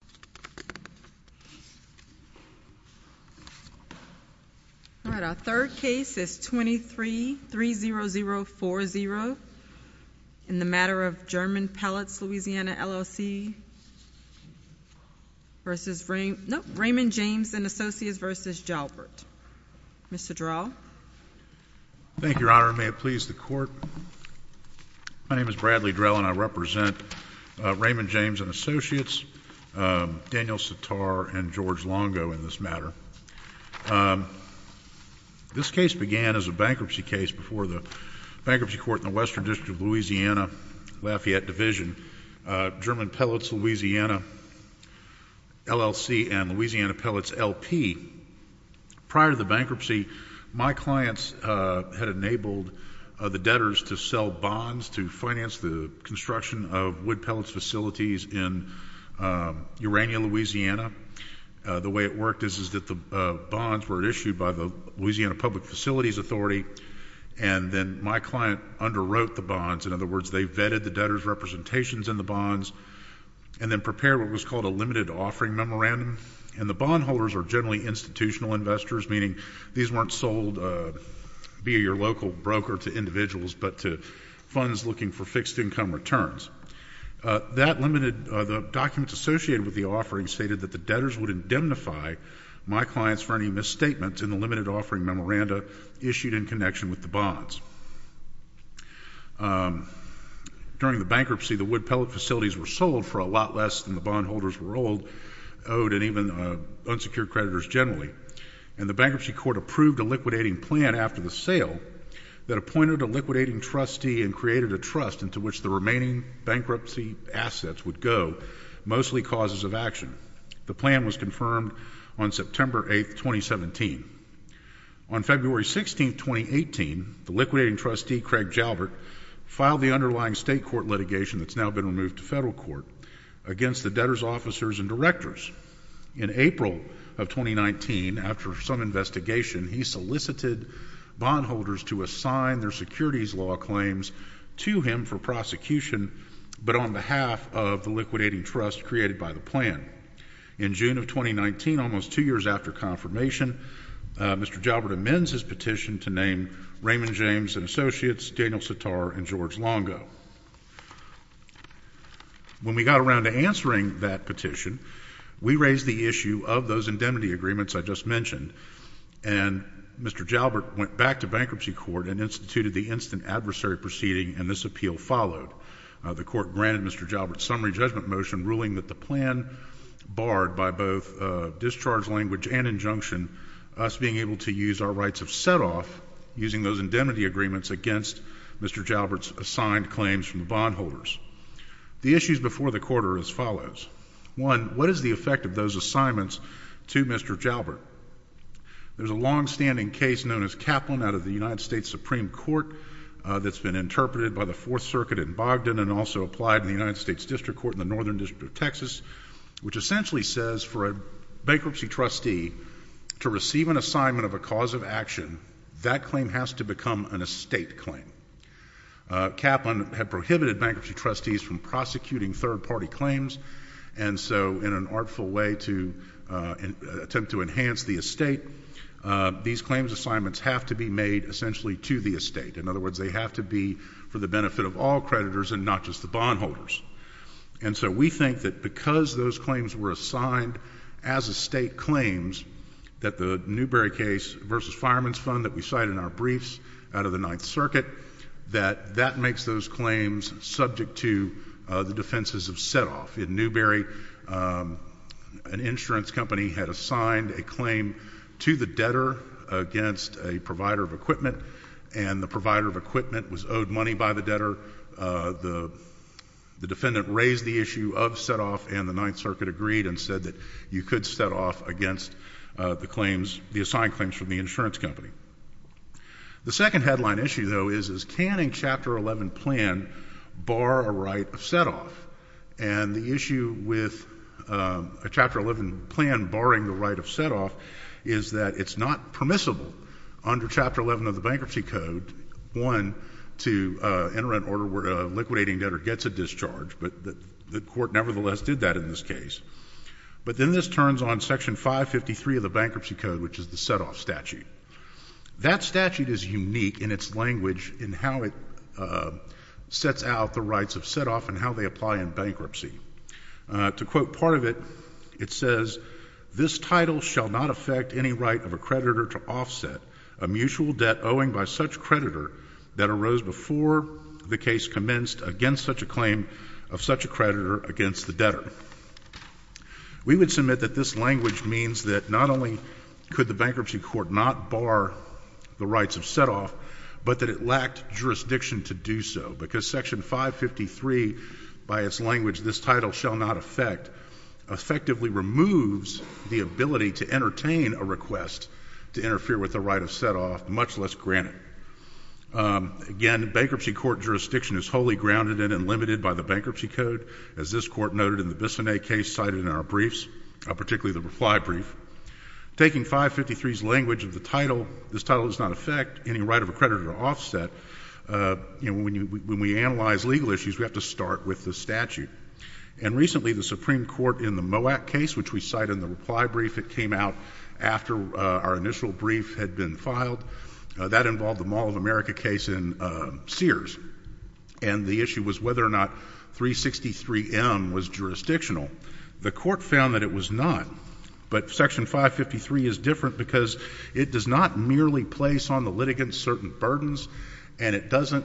Mr. Drell, may it please the Court, my name is Bradley Drell and I represent Raymond James & Associates, Daniel Sitar, and George Longo in this matter. This case began as a bankruptcy case before the Bankruptcy Court in the Western District of Louisiana, Lafayette Division, German Pellets, Louisiana, LLC, and Louisiana Pellets, LP. Prior to the bankruptcy, my clients had enabled the debtors to sell bonds to finance the construction of wood pellets facilities in Urania, Louisiana. The way it worked is that the bonds were issued by the Louisiana Public Facilities Authority and then my client underwrote the bonds, in other words, they vetted the debtors' representations in the bonds, and then prepared what was called a limited offering memorandum, and the bondholders are generally institutional investors, meaning these weren't sold via your local broker to That limited, the documents associated with the offering stated that the debtors would indemnify my clients for any misstatements in the limited offering memorandum issued in connection with the bonds. During the bankruptcy, the wood pellet facilities were sold for a lot less than the bondholders were owed and even unsecured creditors generally, and the Bankruptcy Court approved a liquidating plan after the sale that appointed a liquidating trustee and created a trust into which the remaining bankruptcy assets would go, mostly causes of action. The plan was confirmed on September 8, 2017. On February 16, 2018, the liquidating trustee, Craig Jalbert, filed the underlying state court litigation that's now been removed to federal court against the debtors' officers and directors. In April of 2019, after some investigation, he solicited bondholders to assign their securities law claims to him for prosecution, but on behalf of the liquidating trust created by the plan. In June of 2019, almost two years after confirmation, Mr. Jalbert amends his petition to name Raymond James & Associates, Daniel Sitar, and George Longo. When we got around to answering that petition, we raised the issue of those indemnity agreements I just mentioned, and Mr. Jalbert went back to Bankruptcy Court and instituted the instant adversary proceeding, and this appeal followed. The court granted Mr. Jalbert's summary judgment motion, ruling that the plan barred by both discharge language and injunction, us being able to use our rights of setoff using those indemnity agreements against Mr. Jalbert's assigned claims from the bondholders. The issues before the court are as follows. One, what is the effect of those assignments to Mr. Jalbert? There's a longstanding case known as Kaplan out of the United States Supreme Court that's been interpreted by the Fourth Circuit in Bogdan and also applied in the United States District Court in the Northern District of Texas, which essentially says for a bankruptcy trustee to receive an assignment of a cause of action, that claim has to become an estate claim. Kaplan had prohibited bankruptcy trustees from prosecuting third-party claims, and so in an artful way to attempt to enhance the estate, these claims assignments have to be made essentially to the estate. In other words, they have to be for the benefit of all creditors and not just the bondholders. And so we think that because those claims were assigned as estate claims, that the Newberry case versus fireman's fund that we cite in our briefs out of the Ninth Circuit, that that makes those claims subject to the defenses of set-off. In Newberry, an insurance company had assigned a claim to the debtor against a provider of equipment, and the provider of equipment was owed money by the debtor. The defendant raised the issue of set-off, and the Ninth Circuit agreed and said that you could set-off against the claims, the assigned claims from the insurance company. The second headline issue, though, is can a Chapter 11 plan bar a right of set-off? And the issue with a Chapter 11 plan barring the right of set-off is that it's not permissible under Chapter 11 of the Bankruptcy Code, one, to enter an order where a liquidating debtor gets a discharge, but the Court nevertheless did that in this case. But then this turns on Section 553 of the Bankruptcy Code, which is the set-off statute. That statute is unique in its language in how it sets out the rights of set-off and how they apply in bankruptcy. To quote part of it, it says, We would submit that this language means that not only could the bankruptcy court not bar the rights of set-off, but that it lacked jurisdiction to do so, because Section 553, by its language, this title shall not affect, effectively remove, the right of set-off from the creditors of the debtors. It removes the ability to entertain a request to interfere with the right of set-off, much less grant it. Again, bankruptcy court jurisdiction is wholly grounded in and limited by the Bankruptcy Code, as this Court noted in the Bissonnet case cited in our briefs, particularly the reply brief. Taking 553's language of the title, this title does not affect any right of accreditor offset, when we analyze legal issues, we have to start with the statute. And recently, the Supreme Court, in the MOAC case, which we cite in the reply brief, it came out after our initial brief had been filed. That involved the Mall of America case in Sears, and the issue was whether or not 363M was jurisdictional. The Court found that it was not. But Section 553 is different because it does not merely place on the litigants certain burdens, and it doesn't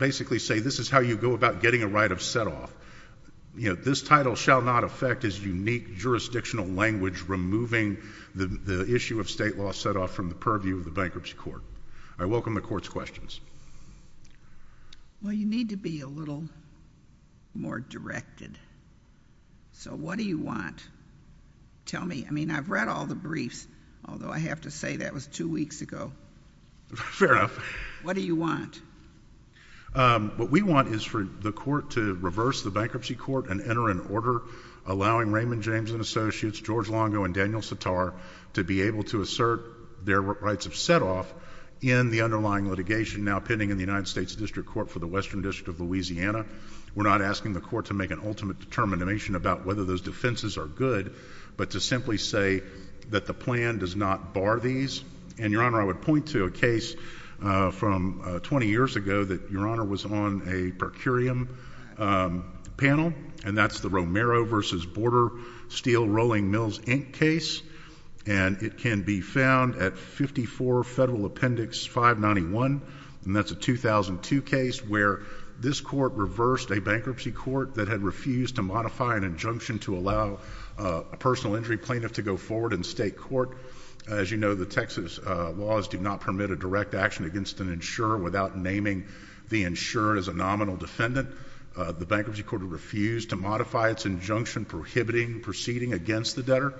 basically say this is how you go about getting a right of set-off. This title shall not affect as unique jurisdictional language removing the issue of state law set-off from the purview of the Bankruptcy Court. I welcome the Court's questions. Well, you need to be a little more directed. So what do you want? Tell me. I mean, I've read all the briefs, although I have to say that was two weeks ago. Fair enough. What do you want? What we want is for the Court to reverse the Bankruptcy Court and enter an order allowing Raymond James and Associates, George Longo and Daniel Sitar, to be able to assert their rights of set-off in the underlying litigation now pending in the United States District Court for the Western District of Louisiana. We're not asking the Court to make an ultimate determination about whether those defenses are good, but to simply say that the plan does not bar these. And, Your Honor, I would point to a case from 20 years ago that, Your Honor, was on a per curiam panel, and that's the Romero v. Border Steel Rolling Mills Inc. case. And it can be found at 54 Federal Appendix 591, and that's a 2002 case where this Court reversed a Bankruptcy Court that had refused to modify an injunction to allow a personal injury plaintiff to go forward in state court. As you know, the Texas laws do not permit a direct action against an insurer without naming the insurer as a nominal defendant. The Bankruptcy Court refused to modify its injunction prohibiting proceeding against the debtor,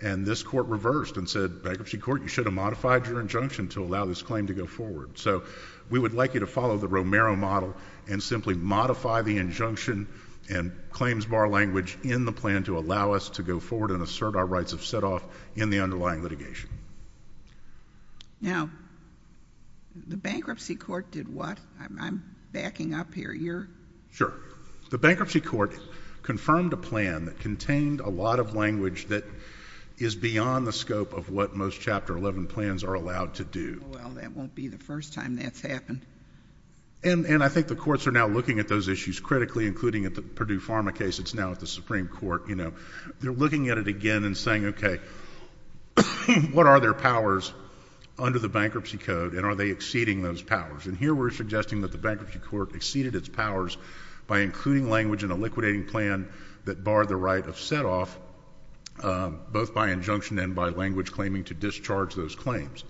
and this Court reversed and said, Bankruptcy Court, you should have modified your injunction to allow this claim to go forward. So we would like you to follow the Romero model and simply modify the injunction and claims bar language in the plan to allow us to go forward and assert our rights of setoff in the underlying litigation. Now, the Bankruptcy Court did what? I'm backing up here. You're... Sure. The Bankruptcy Court confirmed a plan that contained a lot of language that is beyond the scope of what most Chapter 11 plans are allowed to do. Well, that won't be the first time that's happened. And I think the courts are now looking at those issues critically, including at the Purdue Pharma case that's now at the Supreme Court. They're looking at it again and saying, okay, what are their powers under the Bankruptcy Code, and are they exceeding those powers? And here we're suggesting that the Bankruptcy Court exceeded its powers by including language in a liquidating plan that barred the right of setoff, both by injunction and by language claiming to discharge those claims.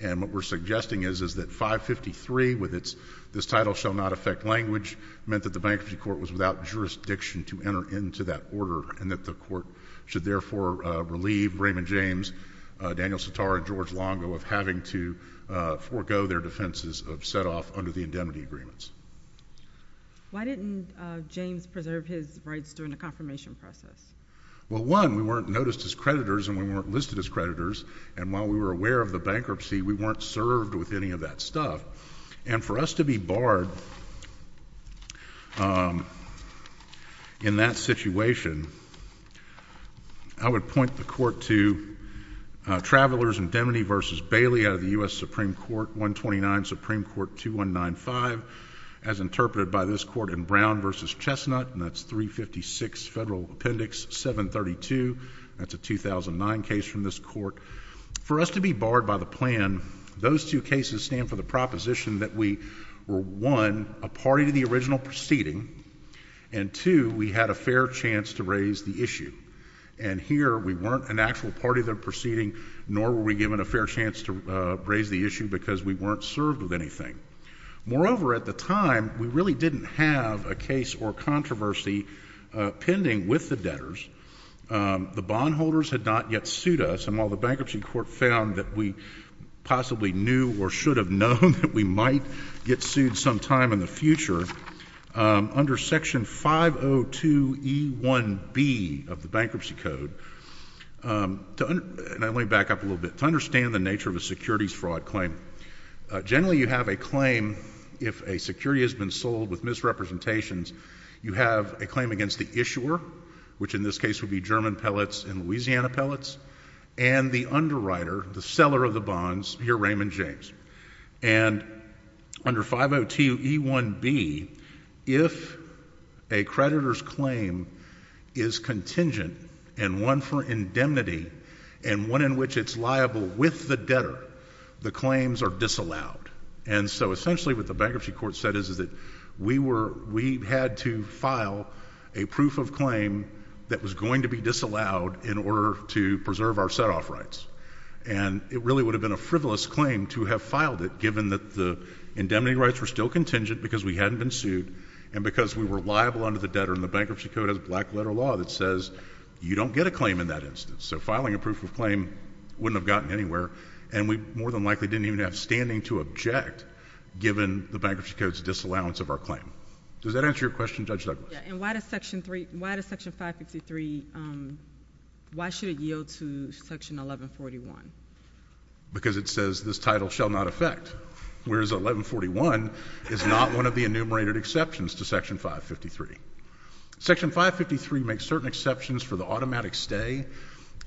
And what we're suggesting is, is that 553, with its, this title shall not affect language, meant that the Bankruptcy Court was without jurisdiction to enter into that order and that the court should therefore relieve Raymond James, Daniel Sitar, and George Longo of having to forego their defenses of setoff under the indemnity agreements. Why didn't James preserve his rights during the confirmation process? Well, one, we weren't noticed as creditors and we weren't listed as creditors, and while we were aware of the bankruptcy, we weren't served with any of that stuff. And for us to be barred in that situation, I would point the court to Travelers' Indemnity v. Bailey out of the U.S. Supreme Court 129, Supreme Court 2195, as interpreted by this court in Brown v. Chestnut, and that's 356 Federal Appendix 732. That's a 2009 case from this court. For us to be barred by the plan, those two cases stand for the proposition that we were, one, a party to the original proceeding, and two, we had a fair chance to raise the issue. And here we weren't an actual party to the proceeding, nor were we given a fair chance to raise the issue because we weren't served with anything. Moreover, at the time, we really didn't have a case or controversy pending with the debtors. The bondholders had not yet sued us, and while the bankruptcy court found that we possibly knew or should have known that we might get sued sometime in the future, under Section 502e1b of the Bankruptcy Code, and let me back up a little bit, to understand the nature of a securities fraud claim, generally you have a claim if a security has been sold with misrepresentations, you have a claim against the issuer, which in this case would be German Pellets and Louisiana Pellets, and the underwriter, the seller of the bonds, here Raymond James. And under 502e1b, if a creditor's claim is contingent and one for indemnity and one in which it's liable with the debtor, the claims are disallowed. And so essentially what the bankruptcy court said is that we had to file a proof of claim that was going to be disallowed in order to preserve our set-off rights, and it really would have been a frivolous claim to have filed it given that the indemnity rights were still contingent because we hadn't been sued and because we were liable under the debtor, and the bankruptcy court has a black-letter law that says you don't get a claim in that instance. So filing a proof of claim wouldn't have gotten anywhere, and we more than likely didn't even have standing to object given the bankruptcy court's disallowance of our claim. Does that answer your question, Judge Douglas? And why does Section 553, why should it yield to Section 1141? Because it says this title shall not affect, whereas 1141 is not one of the enumerated exceptions to Section 553. Section 553 makes certain exceptions for the automatic stay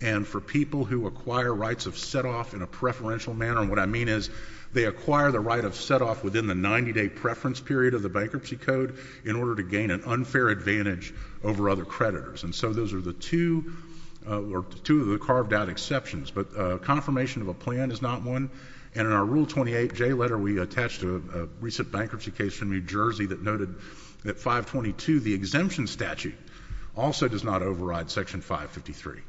and for people who acquire rights of set-off in a preferential manner, and what I mean is they acquire the right of set-off within the 90-day preference period of the bankruptcy code in order to gain an unfair advantage over other creditors. And so those are the two carved-out exceptions. But confirmation of a plan is not one, and in our Rule 28J letter, we attached a recent bankruptcy case from New Jersey that noted that 522, the exemption statute, also does not override Section 553.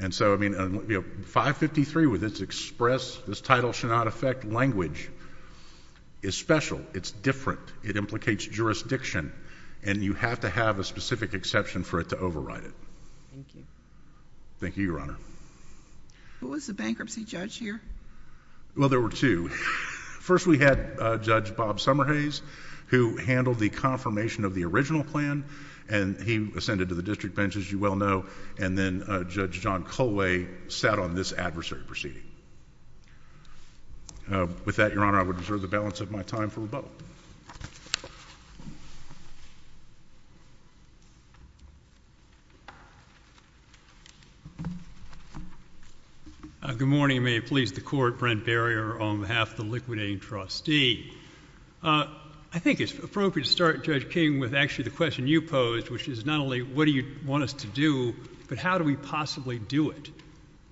And so, I mean, 553, with its express, this title shall not affect language, is special. It's different. It implicates jurisdiction, and you have to have a specific exception for it to override it. Thank you. Thank you, Your Honor. Who was the bankruptcy judge here? Well, there were two. First, we had Judge Bob Summerhays, who handled the confirmation of the original plan, and he ascended to the district bench, as you well know, and then Judge John Colway sat on this adversary proceeding. With that, Your Honor, I would reserve the balance of my time for rebuttal. Good morning. May it please the Court, Brent Barrier, on behalf of the liquidating trustee. I think it's appropriate to start, Judge King, with actually the question you posed, which is not only what do you want us to do, but how do we possibly do it?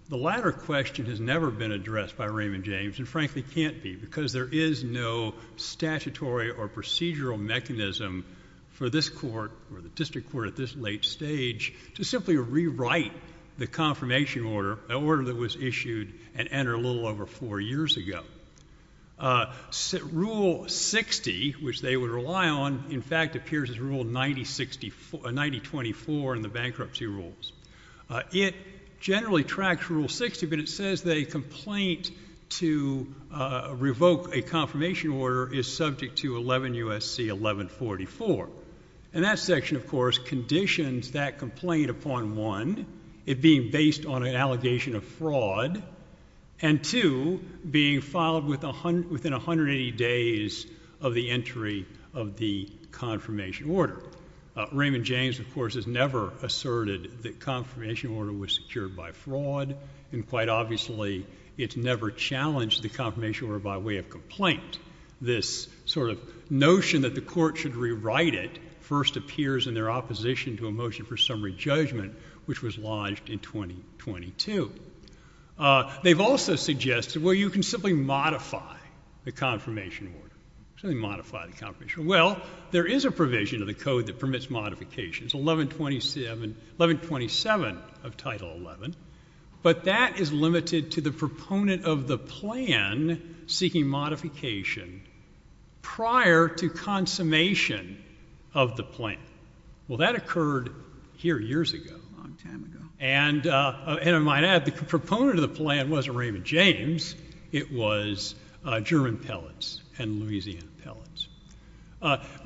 The latter question has never been addressed by Raymond James, and frankly can't be, because there is no statutory or procedural mechanism for this court, or the district court at this late stage, to simply rewrite the confirmation order, an order that was issued and entered a little over four years ago. Rule 60, which they would rely on, in fact appears as Rule 9024 in the bankruptcy rules. It generally tracks Rule 60, but it says the complaint to revoke a confirmation order is subject to 11 U.S.C. 1144. And that section, of course, conditions that complaint upon, one, it being based on an allegation of fraud, and two, being filed within 180 days of the entry of the confirmation order. Raymond James, of course, has never asserted that confirmation order was secured by fraud, and quite obviously it's never challenged the confirmation order by way of complaint. This sort of notion that the court should rewrite it first appears in their opposition to a motion for summary judgment, which was lodged in 2022. They've also suggested, well, you can simply modify the confirmation order, simply modify the confirmation order. Well, there is a provision in the code that permits modifications, 1127 of Title 11, but that is limited to the proponent of the plan seeking modification prior to consummation of the plan. Well, that occurred here years ago, a long time ago, and I might add the proponent of the plan wasn't Raymond James. It was German Pellitz and Louisiana Pellitz.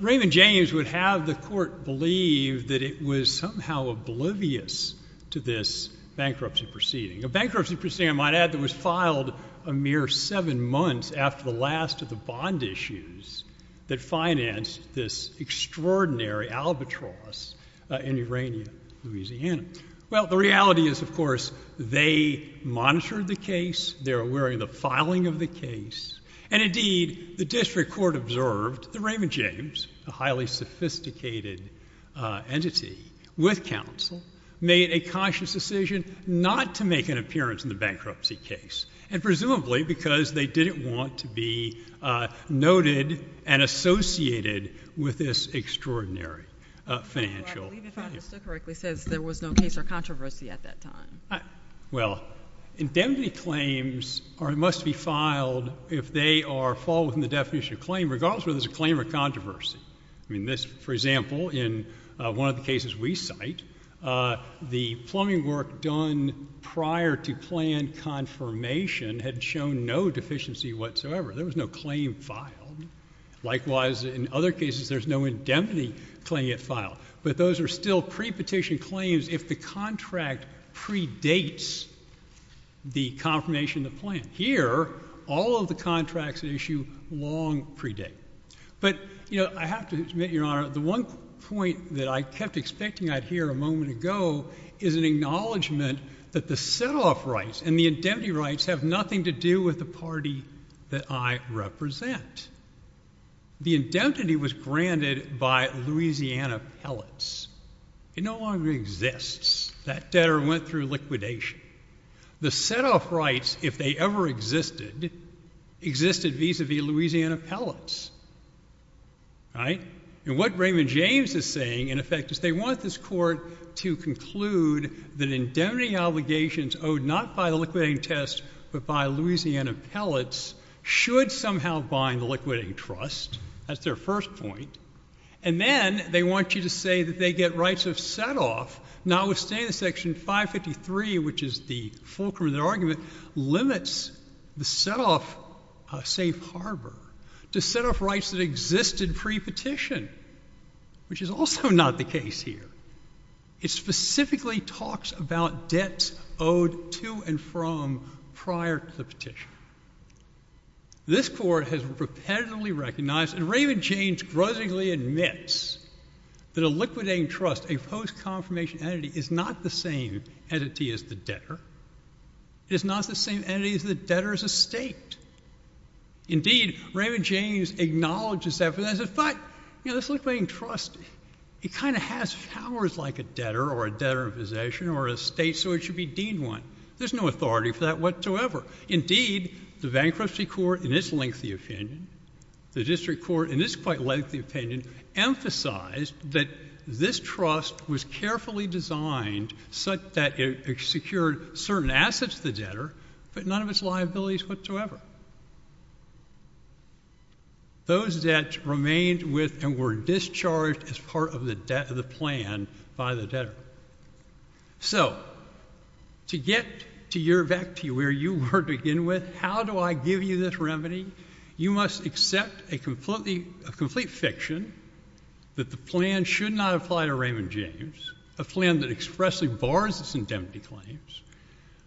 Raymond James would have the court believe that it was somehow oblivious to this bankruptcy proceeding, a bankruptcy proceeding, I might add, that was filed a mere seven months after the last of the bond issues that financed this extraordinary albatross in Urania, Louisiana. Well, the reality is, of course, they monitored the case. They were aware of the filing of the case, and indeed the district court observed that Raymond James, a highly sophisticated entity with counsel, made a conscious decision not to make an appearance in the bankruptcy case, and presumably because they didn't want to be noted and associated with this extraordinary financial failure. Well, I believe if I understood correctly, it says there was no case or controversy at that time. Well, indemnity claims must be filed if they fall within the definition of claim, and regardless whether there's a claim or controversy. I mean, this, for example, in one of the cases we cite, the plumbing work done prior to plan confirmation had shown no deficiency whatsoever. There was no claim filed. Likewise, in other cases, there's no indemnity claim yet filed, but those are still pre-petition claims if the contract predates the confirmation of the plan. And here, all of the contracts at issue long predate. But, you know, I have to admit, Your Honor, the one point that I kept expecting I'd hear a moment ago is an acknowledgment that the set-off rights and the indemnity rights have nothing to do with the party that I represent. The indemnity was granted by Louisiana Pellets. It no longer exists. That debtor went through liquidation. The set-off rights, if they ever existed, existed vis-à-vis Louisiana Pellets, right? And what Raymond James is saying, in effect, is they want this Court to conclude that indemnity obligations owed not by the liquidating test but by Louisiana Pellets should somehow bind the liquidating trust. That's their first point. And then they want you to say that they get rights of set-off, notwithstanding Section 553, which is the fulcrum of their argument, limits the set-off safe harbor to set-off rights that existed pre-petition, which is also not the case here. It specifically talks about debts owed to and from prior to the petition. This Court has repetitively recognized, and Raymond James grusingly admits, that a liquidating trust, a post-confirmation entity, is not the same entity as the debtor. It is not the same entity as the debtor as a state. Indeed, Raymond James acknowledges that. But, you know, this liquidating trust, it kind of has powers like a debtor or a debtor in possession or a state, so it should be deemed one. There's no authority for that whatsoever. Indeed, the Bankruptcy Court, in its lengthy opinion, the District Court, in its quite lengthy opinion, emphasized that this trust was carefully designed such that it secured certain assets to the debtor, but none of its liabilities whatsoever. Those debts remained with and were discharged as part of the plan by the debtor. So, to get to your vector, where you were to begin with, how do I give you this remedy? You must accept a complete fiction that the plan should not apply to Raymond James, a plan that expressly bars its indemnity claims,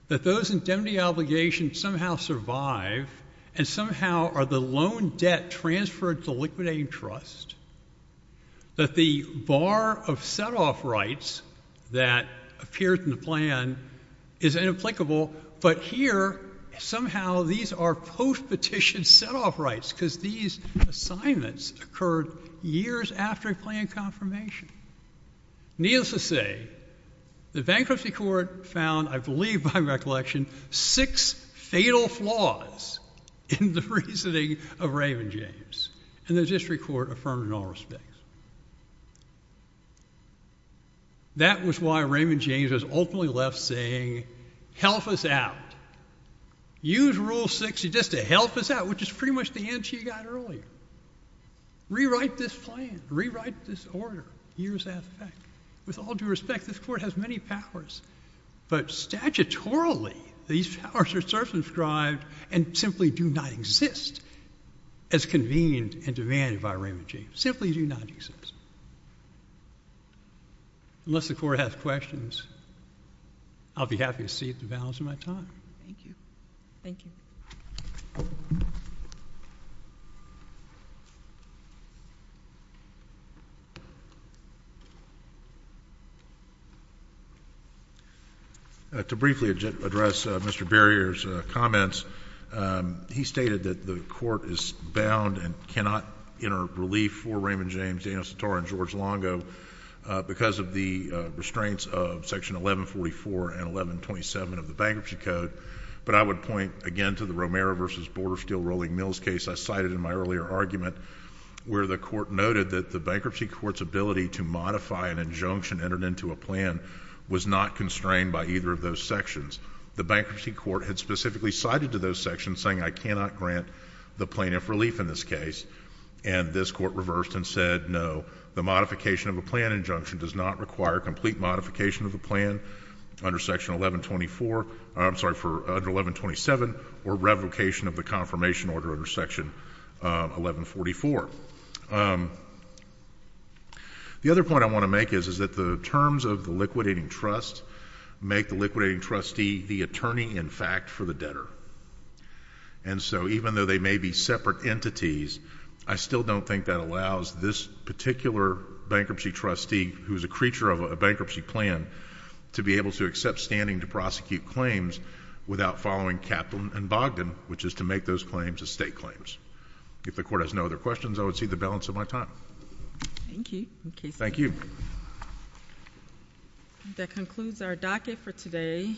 that those indemnity obligations somehow survive and somehow are the loan debt transferred to liquidating trust, that the bar of set-off rights that appears in the plan is inapplicable, but here, somehow, these are post-petition set-off rights because these assignments occurred years after a planned confirmation. Needless to say, the Bankruptcy Court found, I believe by recollection, six fatal flaws in the reasoning of Raymond James, and the District Court affirmed in all respects. That was why Raymond James was ultimately left saying, Help us out. Use Rule 60 just to help us out, which is pretty much the answer you got earlier. Rewrite this plan. Rewrite this order. Here's that effect. With all due respect, this Court has many powers, but statutorily, these powers are circumscribed and simply do not exist as convened and demanded by Raymond James. Simply do not exist. Unless the Court has questions, I'll be happy to cede the balance of my time. Thank you. Thank you. To briefly address Mr. Barrier's comments, he stated that the Court is bound and cannot enter relief for Raymond James, Daniel Sator, and George Longo because of the restraints of Section 1144 and 1127 of the Bankruptcy Code. But I would point again to the Romero v. Bordersteel-Rolling Mills case I cited in my earlier argument, where the Court noted that the Bankruptcy Court's ability to modify an injunction entered into a plan was not constrained by either of those sections. The Bankruptcy Court had specifically cited to those sections, saying I cannot grant the plaintiff relief in this case, and this Court reversed and said, no, the modification of a plan injunction does not require complete modification of the plan under 1127 or revocation of the confirmation order under Section 1144. The other point I want to make is that the terms of the liquidating trust make the liquidating trustee the attorney-in-fact for the debtor. And so even though they may be separate entities, I still don't think that allows this particular bankruptcy trustee, who is a creature of a bankruptcy plan, to be able to accept standing to prosecute claims without following Kaplan and Bogdan, which is to make those claims as state claims. If the Court has no other questions, I would cede the balance of my time. Thank you. Thank you. That concludes our docket for today.